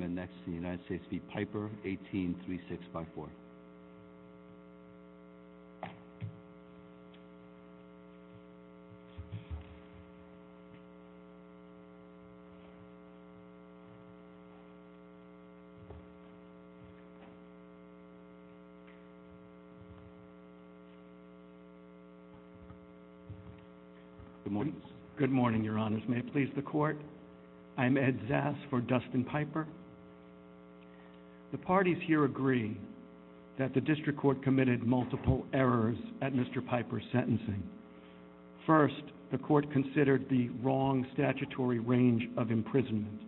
183654 Good morning, your honors. May it please the court? I'm Ed Zas for Dustin Piper. The parties here agree that the district court committed multiple errors at Mr. Piper's sentencing. First, the court considered the wrong statutory range of imprisonment.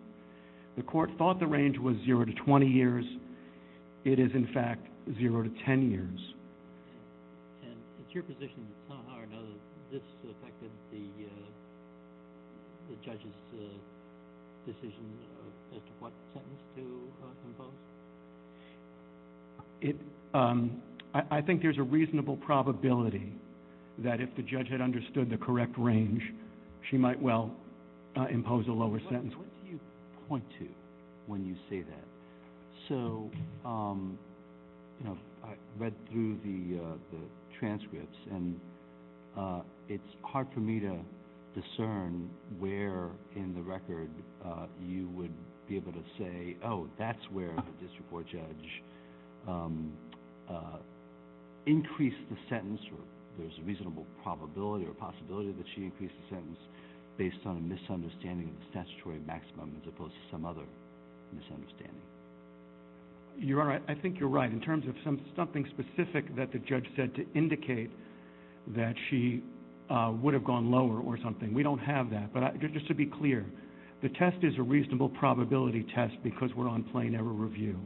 The court thought the range was 0 to 20 years. It is, in fact, 0 to 10 years. And it's your position that somehow or another this affected the judge's decision as to what sentence to impose? I think there's a reasonable probability that if the judge had understood the correct range, she might well impose a lower sentence. Judge, what do you point to when you say that? So I read through the transcripts, and it's hard for me to discern where in the record you would be able to say, oh, that's where the district court judge increased the sentence. There's a reasonable probability or possibility that she increased the sentence based on a misunderstanding of the statutory maximum as opposed to some other misunderstanding. Your honor, I think you're right in terms of something specific that the judge said to indicate that she would have gone lower or something. We don't have that, but just to be clear, the test is a reasonable probability test because we're on plain error review.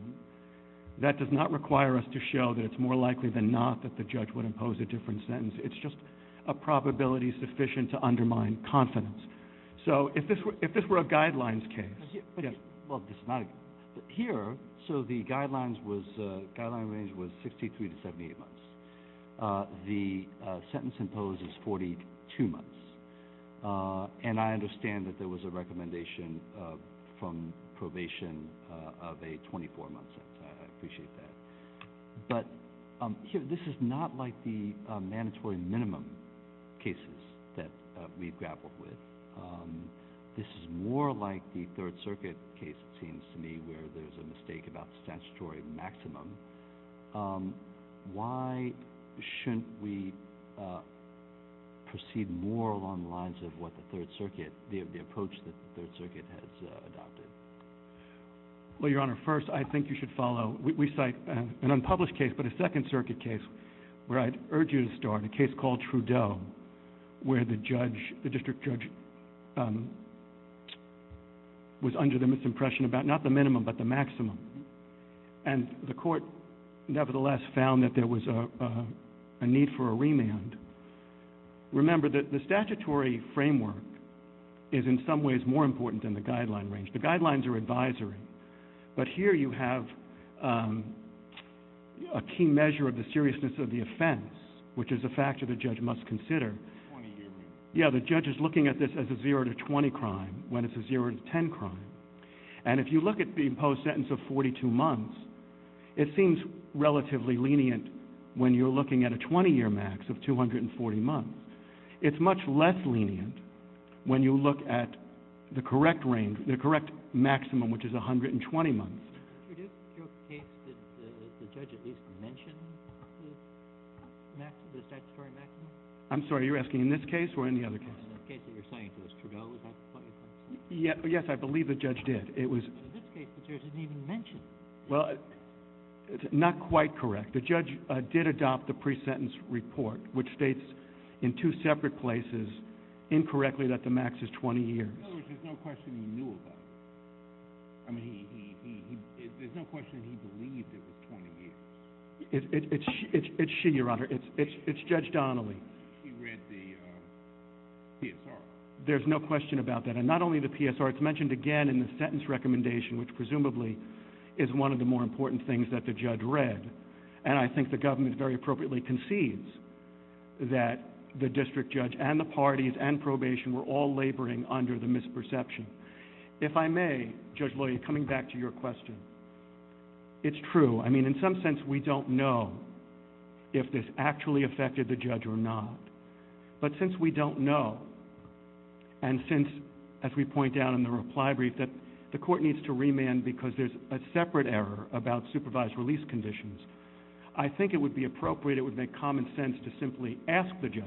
That does not require us to show that it's more likely than not that the judge would impose a different sentence. It's just a probability sufficient to undermine confidence. So if this were a guidelines case. Well, here, so the guidelines range was 63 to 78 months. The sentence imposed is 42 months, and I understand that there was a recommendation from probation of a 24-month sentence. I appreciate that. But this is not like the mandatory minimum cases that we've grappled with. This is more like the Third Circuit case, it seems to me, where there's a mistake about statutory maximum. Why shouldn't we proceed more along the lines of what the Third Circuit, the approach that the Third Circuit has adopted? Well, your honor, first, I think you should follow. We cite an unpublished case, but a Second Circuit case where I'd urge you to start, a case called Trudeau, where the district judge was under the misimpression about not the minimum but the maximum, and the court nevertheless found that there was a need for a remand. Remember that the statutory framework is in some ways more important than the guideline range. The guidelines are advisory, but here you have a key measure of the seriousness of the offense, which is a factor the judge must consider. Yeah, the judge is looking at this as a 0 to 20 crime when it's a 0 to 10 crime. And if you look at the imposed sentence of 42 months, it seems relatively lenient when you're looking at a 20-year max of 240 months. It's much less lenient when you look at the correct range, the correct maximum, which is 120 months. In your case, did the judge at least mention the statutory maximum? I'm sorry, are you asking in this case or in the other case? In the case that you're citing, because Trudeau was not the point you're trying to make. Yes, I believe the judge did. In this case, the judge didn't even mention it. Well, not quite correct. The judge did adopt the pre-sentence report, which states in two separate places incorrectly that the max is 20 years. In other words, there's no question he knew about it. I mean, there's no question he believed it was 20 years. It's she, Your Honor. It's Judge Donnelly. She read the PSR. There's no question about that. And not only the PSR, it's mentioned again in the sentence recommendation, which presumably is one of the more important things that the judge read. And I think the government very appropriately concedes that the district judge and the parties and probation were all laboring under the misperception. If I may, Judge Loy, coming back to your question, it's true. I mean, in some sense, we don't know if this actually affected the judge or not. But since we don't know, and since, as we point out in the reply brief, that the court needs to remand because there's a separate error about supervised release conditions, I think it would be appropriate, it would make common sense, to simply ask the judge.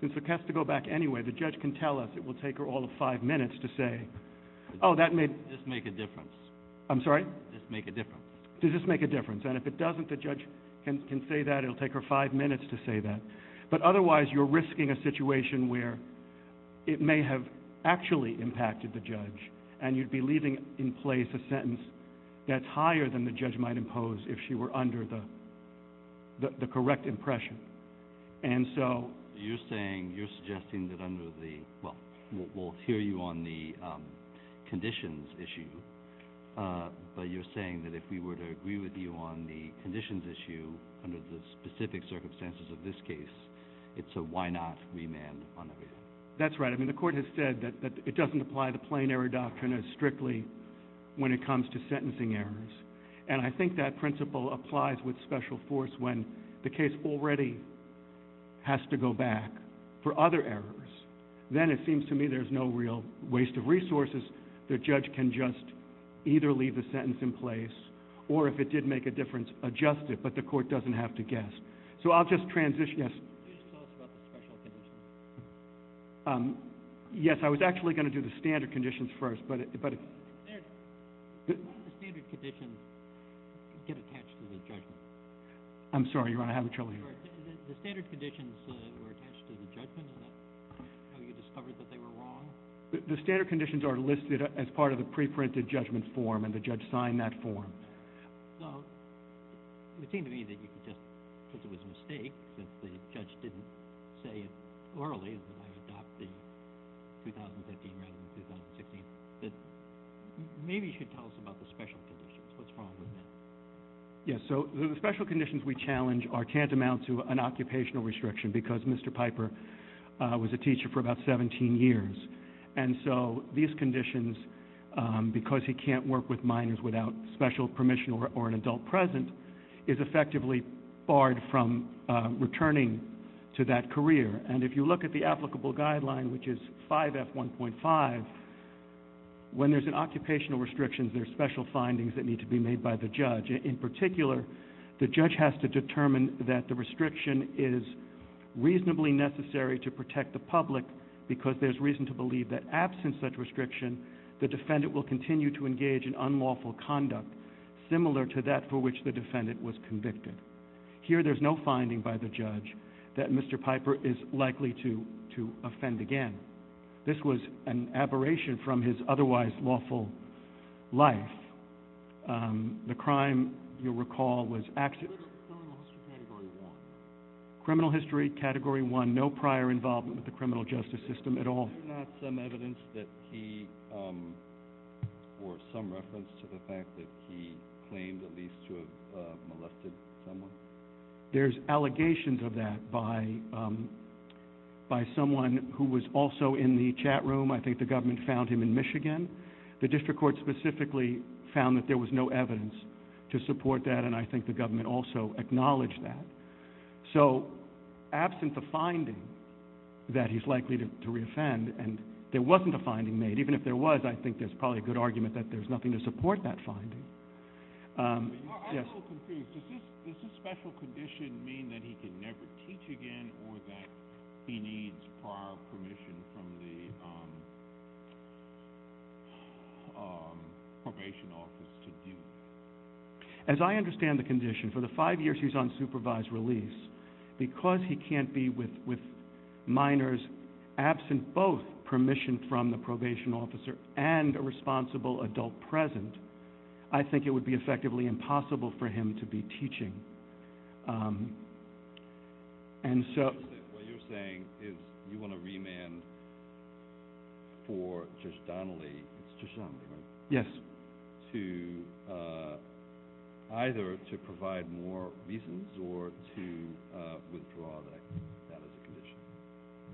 Since it has to go back anyway, the judge can tell us it will take her all of five minutes to say, oh, that may just make a difference. I'm sorry? Just make a difference. Does this make a difference? And if it doesn't, the judge can say that. It will take her five minutes to say that. But otherwise, you're risking a situation where it may have actually impacted the judge, and you'd be leaving in place a sentence that's higher than the judge might impose if she were under the correct impression. And so you're saying, you're suggesting that under the, well, we'll hear you on the conditions issue, but you're saying that if we were to agree with you on the conditions issue under the specific circumstances of this case, it's a why not remand on everything. That's right. I mean, the court has said that it doesn't apply the plain error doctrine as strictly when it comes to sentencing errors. And I think that principle applies with special force when the case already has to go back for other errors. Then it seems to me there's no real waste of resources. The judge can just either leave the sentence in place, or if it did make a difference, adjust it. But the court doesn't have to guess. So I'll just transition. Yes? Can you tell us about the special conditions? Yes. I was actually going to do the standard conditions first, but – Did one of the standard conditions get attached to the judgment? I'm sorry, Your Honor. I have a trouble hearing. The standard conditions were attached to the judgment. Is that how you discovered that they were wrong? The standard conditions are listed as part of the preprinted judgment form, and the judge signed that form. So it would seem to me that you could just, because it was a mistake that the judge didn't say it orally, that I adopt the 2015 rather than the 2016, that maybe you should tell us about the special conditions. What's wrong with that? Yes. So the special conditions we challenge can't amount to an occupational restriction because Mr. Piper was a teacher for about 17 years. And so these conditions, because he can't work with minors without special permission or an adult present, is effectively barred from returning to that career. And if you look at the applicable guideline, which is 5F1.5, when there's an occupational restriction, there's special findings that need to be made by the judge. In particular, the judge has to determine that the restriction is reasonably necessary to protect the public because there's reason to believe that absent such restriction, the defendant will continue to engage in unlawful conduct similar to that for which the defendant was convicted. Here there's no finding by the judge that Mr. Piper is likely to offend again. This was an aberration from his otherwise lawful life. The crime, you'll recall, was actually... Criminal history category one. Criminal history category one, no prior involvement with the criminal justice system at all. Is there not some evidence that he, or some reference to the fact that he claimed at least to have molested someone? There's allegations of that by someone who was also in the chat room. I think the government found him in Michigan. The district court specifically found that there was no evidence to support that, and I think the government also acknowledged that. So absent the finding that he's likely to reoffend, and there wasn't a finding made. Even if there was, I think there's probably a good argument that there's nothing to support that finding. I'm a little confused. Does this special condition mean that he can never teach again, or that he needs prior permission from the probation office to do it? As I understand the condition, for the five years he was on supervised release, because he can't be with minors absent both permission from the probation officer and a responsible adult present, I think it would be effectively impossible for him to be teaching. What you're saying is you want to remand for Judge Donnelly, it's Judge Donnelly, right? Yes. Either to provide more reasons or to withdraw that as a condition.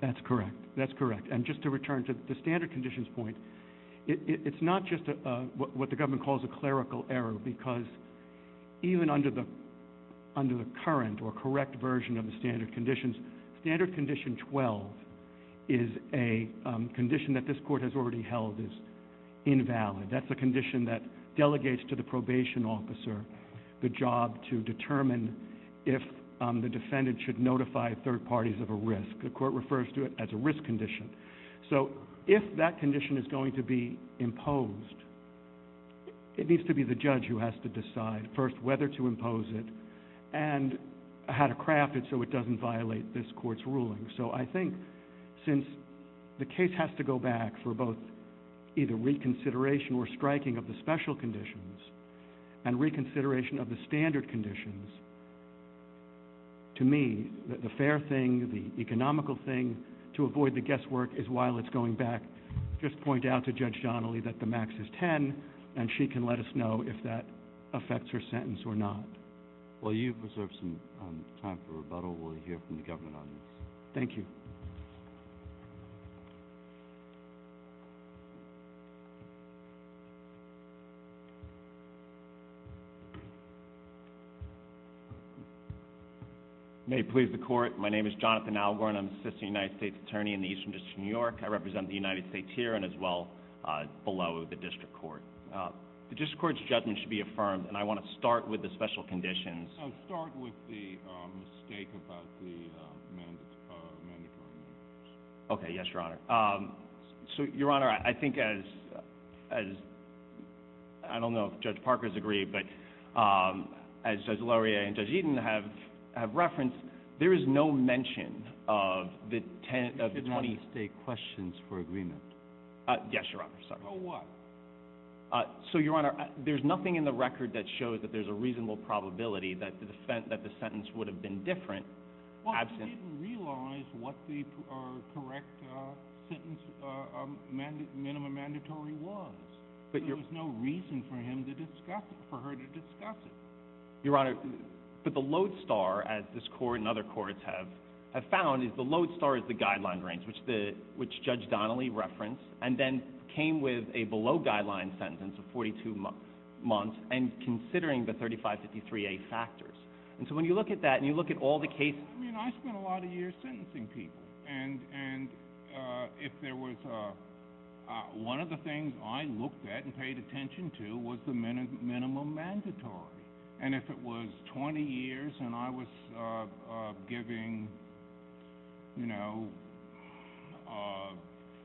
That's correct. That's correct. And just to return to the standard conditions point, it's not just what the government calls a clerical error, because even under the current or correct version of the standard conditions, standard condition 12 is a condition that this court has already held is invalid. That's a condition that delegates to the probation officer the job to determine if the defendant should notify third parties of a risk. The court refers to it as a risk condition. So if that condition is going to be imposed, it needs to be the judge who has to decide first whether to impose it and how to craft it so it doesn't violate this court's ruling. So I think since the case has to go back for both either reconsideration or striking of the special conditions and reconsideration of the standard conditions, to me, the fair thing, the economical thing, to avoid the guesswork is while it's going back, just point out to Judge Donnelly that the max is 10 and she can let us know if that affects her sentence or not. While you preserve some time for rebuttal, we'll hear from the government audience. Thank you. May it please the court. My name is Jonathan Algor, and I'm an assistant United States attorney in the Eastern District of New York. I represent the United States here and as well below the district court. The district court's judgment should be affirmed, and I want to start with the special conditions. Start with the mistake about the mandatory remuneration. Okay, yes, Your Honor. So, Your Honor, I think as I don't know if Judge Parker has agreed, but as Laurier and Judge Eaton have referenced, there is no mention of the 10 of the 20. You should not mistake questions for agreement. Yes, Your Honor. So what? So, Your Honor, there's nothing in the record that shows that there's a reasonable probability that the sentence would have been different. Well, he didn't realize what the correct sentence minimum mandatory was. There was no reason for him to discuss it, for her to discuss it. Your Honor, but the lodestar, as this court and other courts have found, is the lodestar is the guideline range, which Judge Donnelly referenced, and then came with a below-guideline sentence of 42 months and considering the 3553A factors. And so when you look at that and you look at all the cases. I mean, I spent a lot of years sentencing people, and if there was one of the things I looked at and paid attention to was the minimum mandatory. And if it was 20 years and I was giving, you know,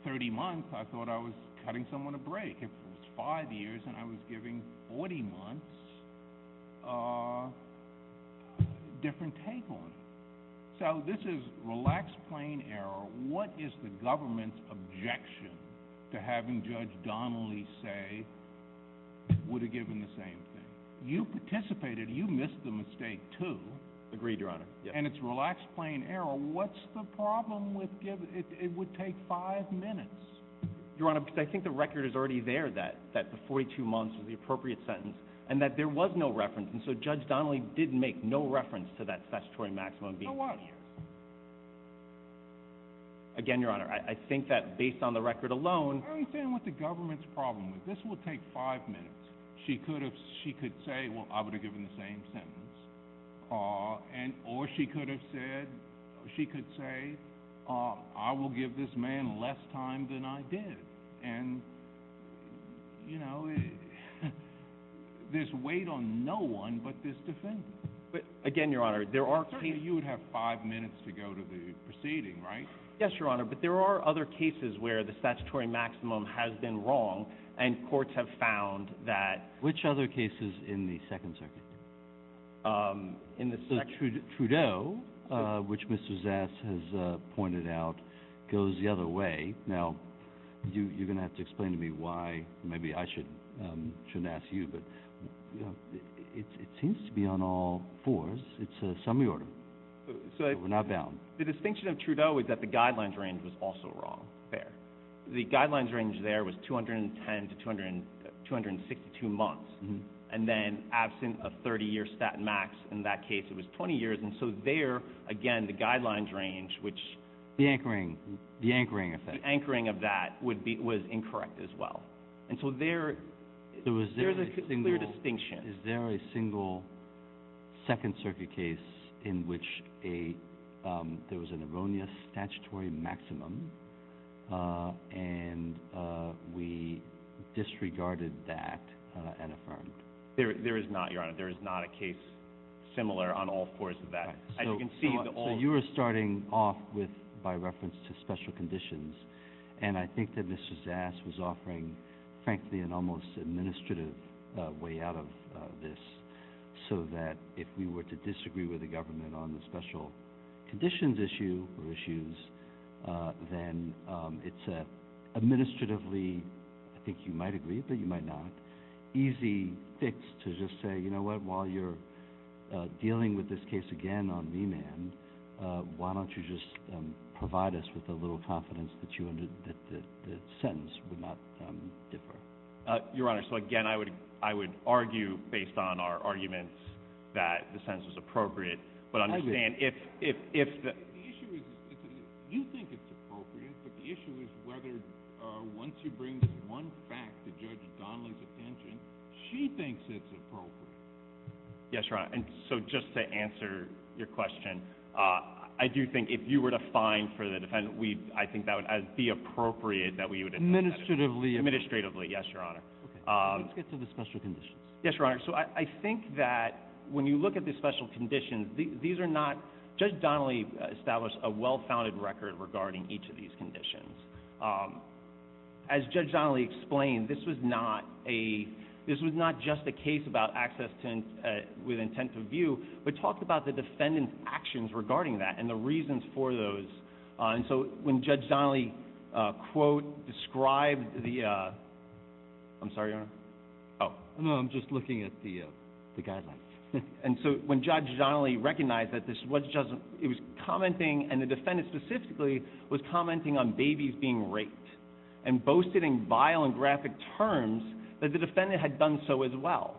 30 months, I thought I was cutting someone a break. If it was five years and I was giving 40 months, different take on it. So this is relaxed, plain error. What is the government's objection to having Judge Donnelly say, would have given the same thing? You participated. You missed the mistake, too. Agreed, Your Honor. And it's relaxed, plain error. What's the problem with giving? It would take five minutes. Your Honor, because I think the record is already there that the 42 months was the appropriate sentence and that there was no reference, and so Judge Donnelly didn't make no reference to that statutory maximum being 20 years. No, I didn't. Again, Your Honor, I think that based on the record alone. I understand what the government's problem is. This would take five minutes. She could say, well, I would have given the same sentence, or she could have said, she could say, I will give this man less time than I did. And, you know, there's weight on no one but this defendant. Again, Your Honor, there are cases. You would have five minutes to go to the proceeding, right? Yes, Your Honor, but there are other cases where the statutory maximum has been wrong, and courts have found that. Which other cases in the Second Circuit? Trudeau, which Mr. Zass has pointed out, goes the other way. Now, you're going to have to explain to me why. Maybe I shouldn't ask you, but it seems to be on all fours. It's a summary order. We're not bound. The distinction of Trudeau is that the guidelines range was also wrong there. The guidelines range there was 210 to 262 months. And then absent a 30-year stat max in that case, it was 20 years. And so there, again, the guidelines range, which the anchoring of that was incorrect as well. And so there is a clear distinction. Is there a single Second Circuit case in which there was an erroneous statutory maximum, and we disregarded that and affirmed? There is not, Your Honor. There is not a case similar on all fours of that. As you can see, the all— so that if we were to disagree with the government on the special conditions issue or issues, then it's an administratively—I think you might agree, but you might not—easy fix to just say, you know what, while you're dealing with this case again on V-Man, why don't you just provide us with a little confidence that the sentence would not differ? Your Honor, so again, I would argue based on our arguments that the sentence is appropriate. But understand, if the— The issue is—you think it's appropriate, but the issue is whether once you bring one fact to Judge Donnelly's attention, she thinks it's appropriate. Yes, Your Honor. And so just to answer your question, I do think if you were to fine for the defendant, I think that would be appropriate that we would— Administratively. Administratively, yes, Your Honor. Okay. Let's get to the special conditions. Yes, Your Honor. So I think that when you look at the special conditions, these are not— Judge Donnelly established a well-founded record regarding each of these conditions. As Judge Donnelly explained, this was not a—this was not just a case about access with intent to view, but talked about the defendant's actions regarding that and the reasons for those. And so when Judge Donnelly, quote, described the—I'm sorry, Your Honor? No, I'm just looking at the guidelines. And so when Judge Donnelly recognized that this was just—it was commenting, and the defendant specifically was commenting on babies being raped and boasting in vile and graphic terms that the defendant had done so as well.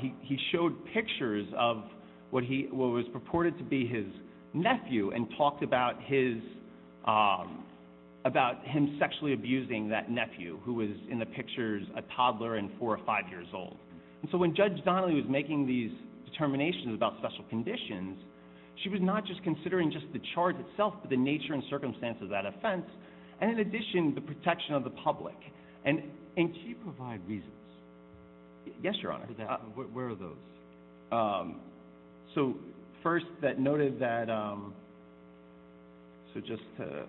He showed pictures of what he—what was purported to be his nephew and talked about his—about him sexually abusing that nephew, who was in the pictures a toddler and four or five years old. And so when Judge Donnelly was making these determinations about special conditions, she was not just considering just the charge itself, but the nature and circumstance of that offense, and in addition, the protection of the public. And can you provide reasons? Yes, Your Honor. Where are those? So first, that noted that—so just to—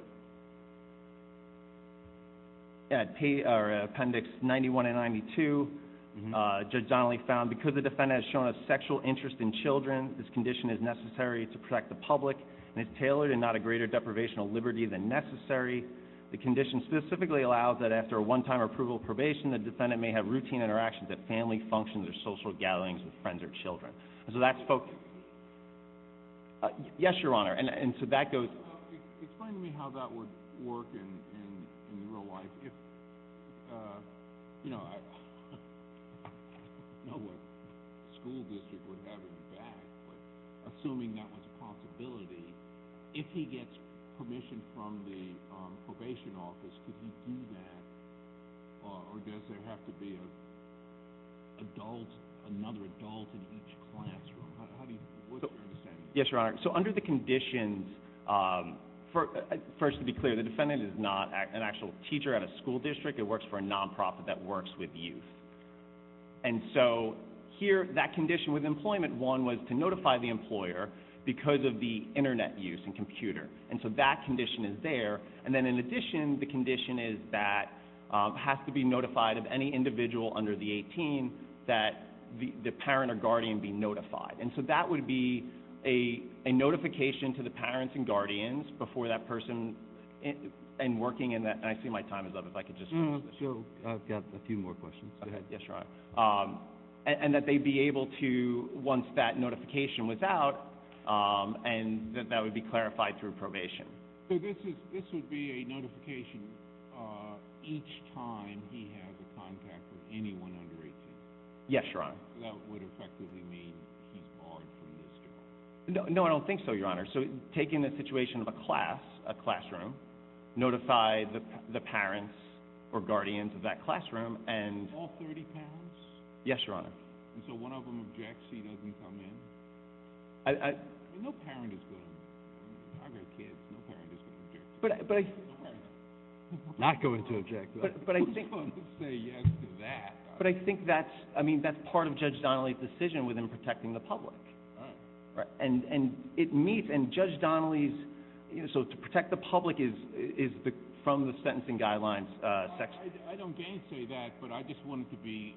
Appendix 91 and 92, Judge Donnelly found, because the defendant has shown a sexual interest in children, this condition is necessary to protect the public and is tailored and not a greater deprivation of liberty than necessary. The condition specifically allows that after a one-time approval probation, the defendant may have routine interactions at family functions or social gatherings with friends or children. And so that spoke— Can you repeat that? Yes, Your Honor. And so that goes— Explain to me how that would work in real life. If—you know, I don't know what school district would have in the bag, but assuming that was a possibility, if he gets permission from the probation office, could he do that, or does there have to be an adult, another adult in each classroom? How do you—what's your understanding? Yes, Your Honor. So under the conditions—first, to be clear, the defendant is not an actual teacher at a school district. It works for a nonprofit that works with youth. And so here, that condition with employment, one was to notify the employer because of the Internet use and computer. And so that condition is there. And then in addition, the condition is that it has to be notified of any individual under the 18 that the parent or guardian be notified. And so that would be a notification to the parents and guardians before that person—and working in that— and I see my time is up. If I could just finish this. Sure. I've got a few more questions. Go ahead. Yes, Your Honor. And that they be able to, once that notification was out, and that would be clarified through probation. So this would be a notification each time he has a contact with anyone under 18? Yes, Your Honor. So that would effectively mean he's barred from this job? No, I don't think so, Your Honor. So taking the situation of a class, a classroom, notify the parents or guardians of that classroom and— All 30 parents? Yes, Your Honor. And so one of them objects, he doesn't come in? No parent is good on that. I've got kids. No parent is going to object. Not going to object. Who's going to say yes to that? But I think that's part of Judge Donnelly's decision within protecting the public. And it meets—and Judge Donnelly's— so to protect the public is from the sentencing guidelines section. I don't gainsay that, but I just wanted to be—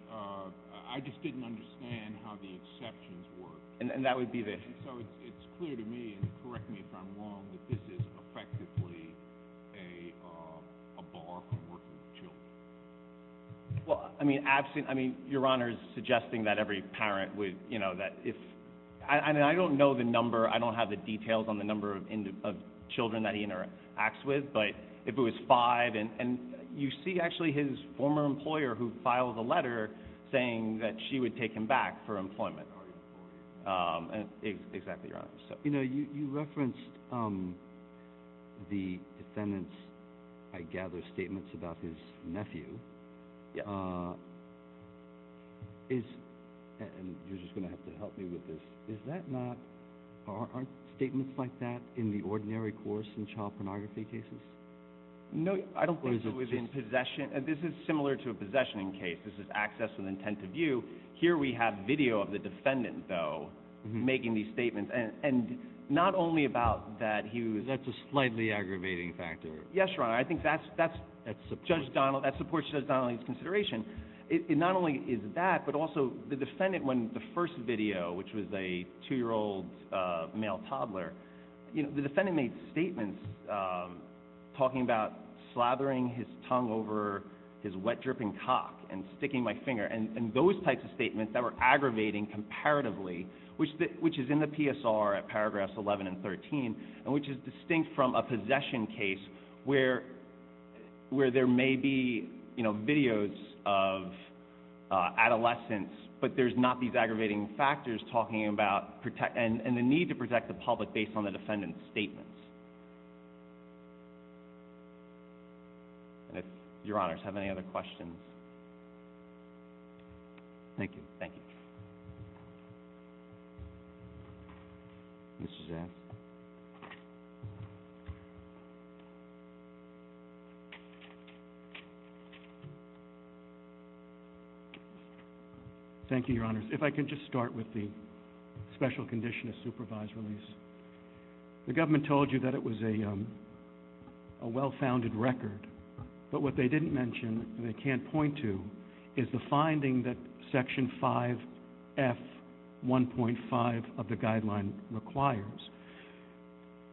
I just didn't understand how the exceptions work. And that would be there. And so it's clear to me, and correct me if I'm wrong, that this is effectively a bar for working with children. Well, I mean, absent—I mean, Your Honor is suggesting that every parent would— you know, that if—I mean, I don't know the number. I don't have the details on the number of children that he interacts with. But if it was five—and you see, actually, his former employer, who filed a letter saying that she would take him back for employment. Exactly, Your Honor. You know, you referenced the defendant's, I gather, statements about his nephew. Is—and you're just going to have to help me with this. Is that not—aren't statements like that in the ordinary course in child pornography cases? No, I don't think it was in possession. This is similar to a possession case. This is access and intent to view. Here we have video of the defendant, though, making these statements. And not only about that he was— That's a slightly aggravating factor. Yes, Your Honor. I think that's— That supports— That supports Judge Donnelly's consideration. It not only is that, but also the defendant, when the first video, which was a two-year-old male toddler, you know, the defendant made statements talking about slathering his tongue over his wet, dripping cock and sticking my finger, and those types of statements that were aggravating comparatively, which is in the PSR at paragraphs 11 and 13, and which is distinct from a possession case where there may be, you know, videos of adolescents, but there's not these aggravating factors talking about— and the need to protect the public based on the defendant's statements. And if Your Honors have any other questions. Thank you. Thank you. Thank you, Your Honors. If I could just start with the special condition of supervised release. The government told you that it was a well-founded record, but what they didn't mention, and they can't point to, is the finding that Section 5F1.5 of the guideline requires.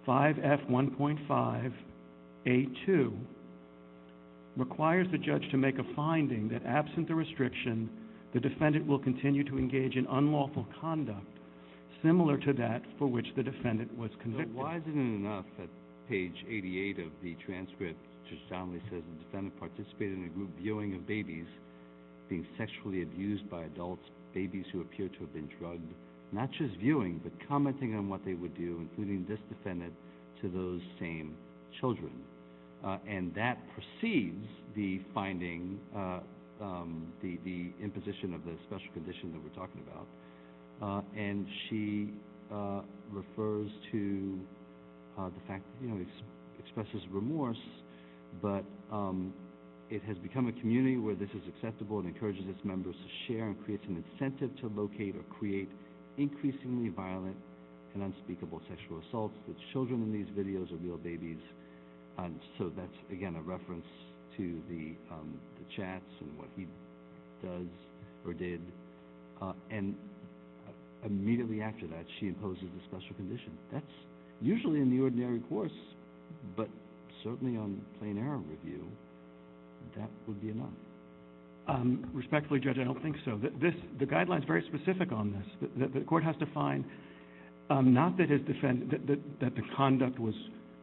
5F1.5A2 requires the judge to make a finding that absent the restriction, the defendant will continue to engage in unlawful conduct similar to that for which the defendant was convicted. So why isn't it enough that page 88 of the transcript just soundly says, the defendant participated in a group viewing of babies being sexually abused by adults, babies who appear to have been drugged, not just viewing, but commenting on what they would do, including this defendant, to those same children. And that precedes the finding, the imposition of the special condition that we're talking about. And she refers to the fact, you know, expresses remorse, but it has become a community where this is acceptable and encourages its members to share and creates an incentive to locate or create increasingly violent and unspeakable sexual assaults. The children in these videos are real babies. So that's, again, a reference to the chats and what he does or did. And immediately after that, she imposes the special condition. That's usually in the ordinary course, but certainly on plain error review, that would be enough. Respectfully, Judge, I don't think so. The guideline is very specific on this. The court has to find not that the conduct was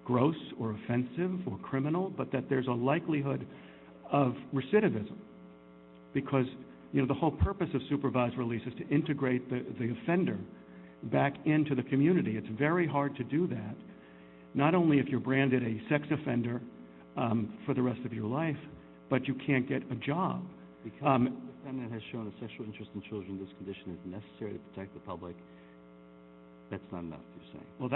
gross or offensive or criminal, but that there's a likelihood of recidivism. Because, you know, the whole purpose of supervised release is to integrate the offender back into the community. It's very hard to do that, not only if you're branded a sex offender for the rest of your life, but you can't get a job. The defendant has shown a sexual interest in children. This condition is necessary to protect the public. That's not enough, you're saying. Well,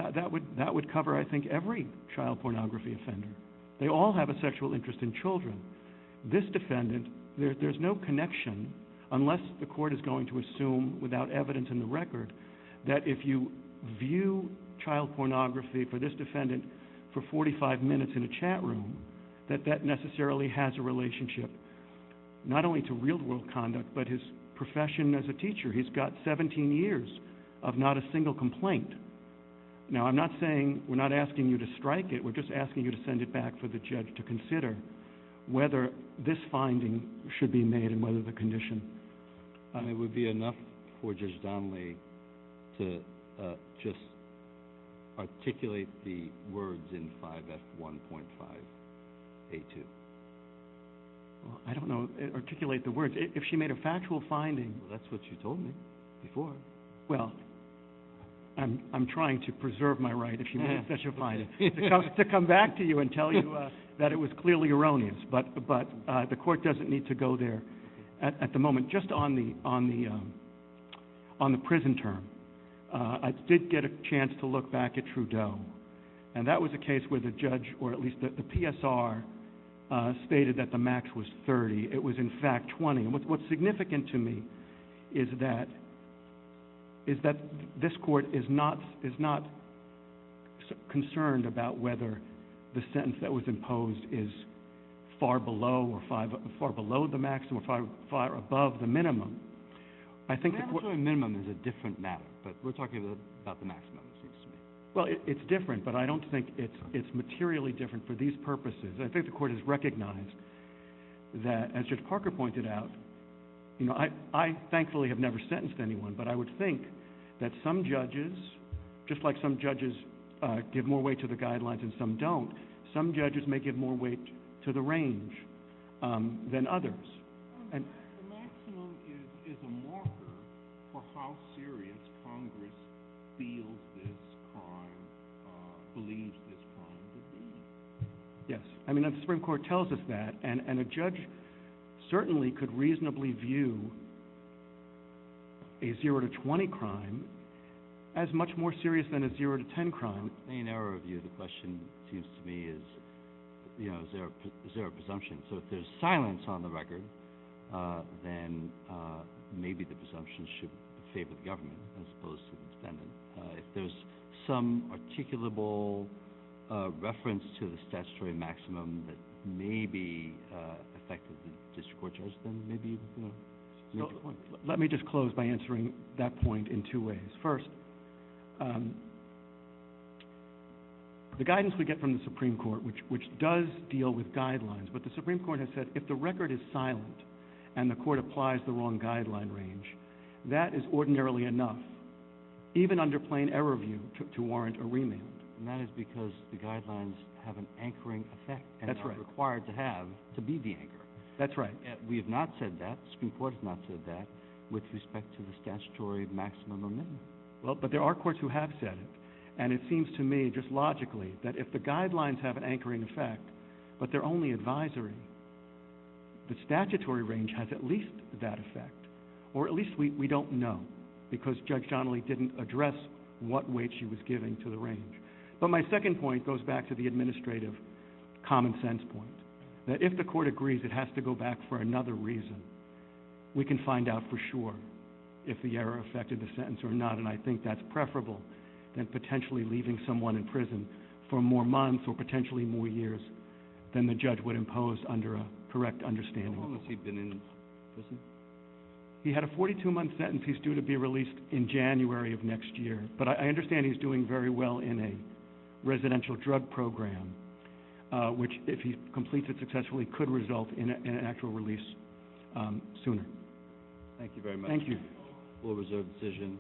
that would cover, I think, every child pornography offender. They all have a sexual interest in children. This defendant, there's no connection, unless the court is going to assume without evidence in the record, that if you view child pornography for this defendant for 45 minutes in a chat room, that that necessarily has a relationship not only to real-world conduct, but his profession as a teacher. He's got 17 years of not a single complaint. Now, I'm not saying, we're not asking you to strike it. We're just asking you to send it back for the judge to consider whether this finding should be made and whether the condition. It would be enough for Judge Donley to just articulate the words in 5F1.5A2. I don't know, articulate the words. If she made a factual finding. That's what you told me before. Well, I'm trying to preserve my right if she made a factual finding. To come back to you and tell you that it was clearly erroneous. But the court doesn't need to go there. At the moment, just on the prison term, I did get a chance to look back at Trudeau. And that was a case where the judge, or at least the PSR, stated that the max was 30. It was, in fact, 20. And what's significant to me is that this court is not concerned about whether the sentence that was imposed is far below or far above the minimum. I think the court. I'm not saying minimum is a different matter. But we're talking about the maximum, it seems to me. Well, it's different. But I don't think it's materially different for these purposes. I think the court has recognized that, as Judge Parker pointed out, I thankfully have never sentenced anyone. But I would think that some judges, just like some judges give more weight to the guidelines than some don't, some judges may give more weight to the range than others. The maximum is a marker for how serious Congress feels this crime, believes this crime to be. Yes. I mean, the Supreme Court tells us that. And a judge certainly could reasonably view a 0 to 20 crime as much more serious than a 0 to 10 crime. In our view, the question seems to me is, you know, is there a presumption? So if there's silence on the record, then maybe the presumption should favor the government as opposed to the defendant. If there's some articulable reference to the statutory maximum that may be affected the district court judge, then maybe, you know, make a point. Let me just close by answering that point in two ways. First, the guidance we get from the Supreme Court, which does deal with guidelines, but the Supreme Court has said if the record is silent and the court applies the wrong guideline range, that is ordinarily enough. Even under plain error view to warrant a remand. And that is because the guidelines have an anchoring effect and are required to have to be the anchor. That's right. We have not said that. The Supreme Court has not said that with respect to the statutory maximum or minimum. Well, but there are courts who have said it. And it seems to me just logically that if the guidelines have an anchoring effect but they're only advisory, the statutory range has at least that effect. Or at least we don't know because Judge Johnley didn't address what weight she was giving to the range. But my second point goes back to the administrative common sense point. That if the court agrees it has to go back for another reason, we can find out for sure if the error affected the sentence or not. And I think that's preferable than potentially leaving someone in prison for more months or potentially more years than the judge would impose under a correct understanding. How long has he been in prison? He had a 42-month sentence. He's due to be released in January of next year. But I understand he's doing very well in a residential drug program, which if he completes it successfully could result in an actual release sooner. Thank you very much. Thank you. Full reserve decision.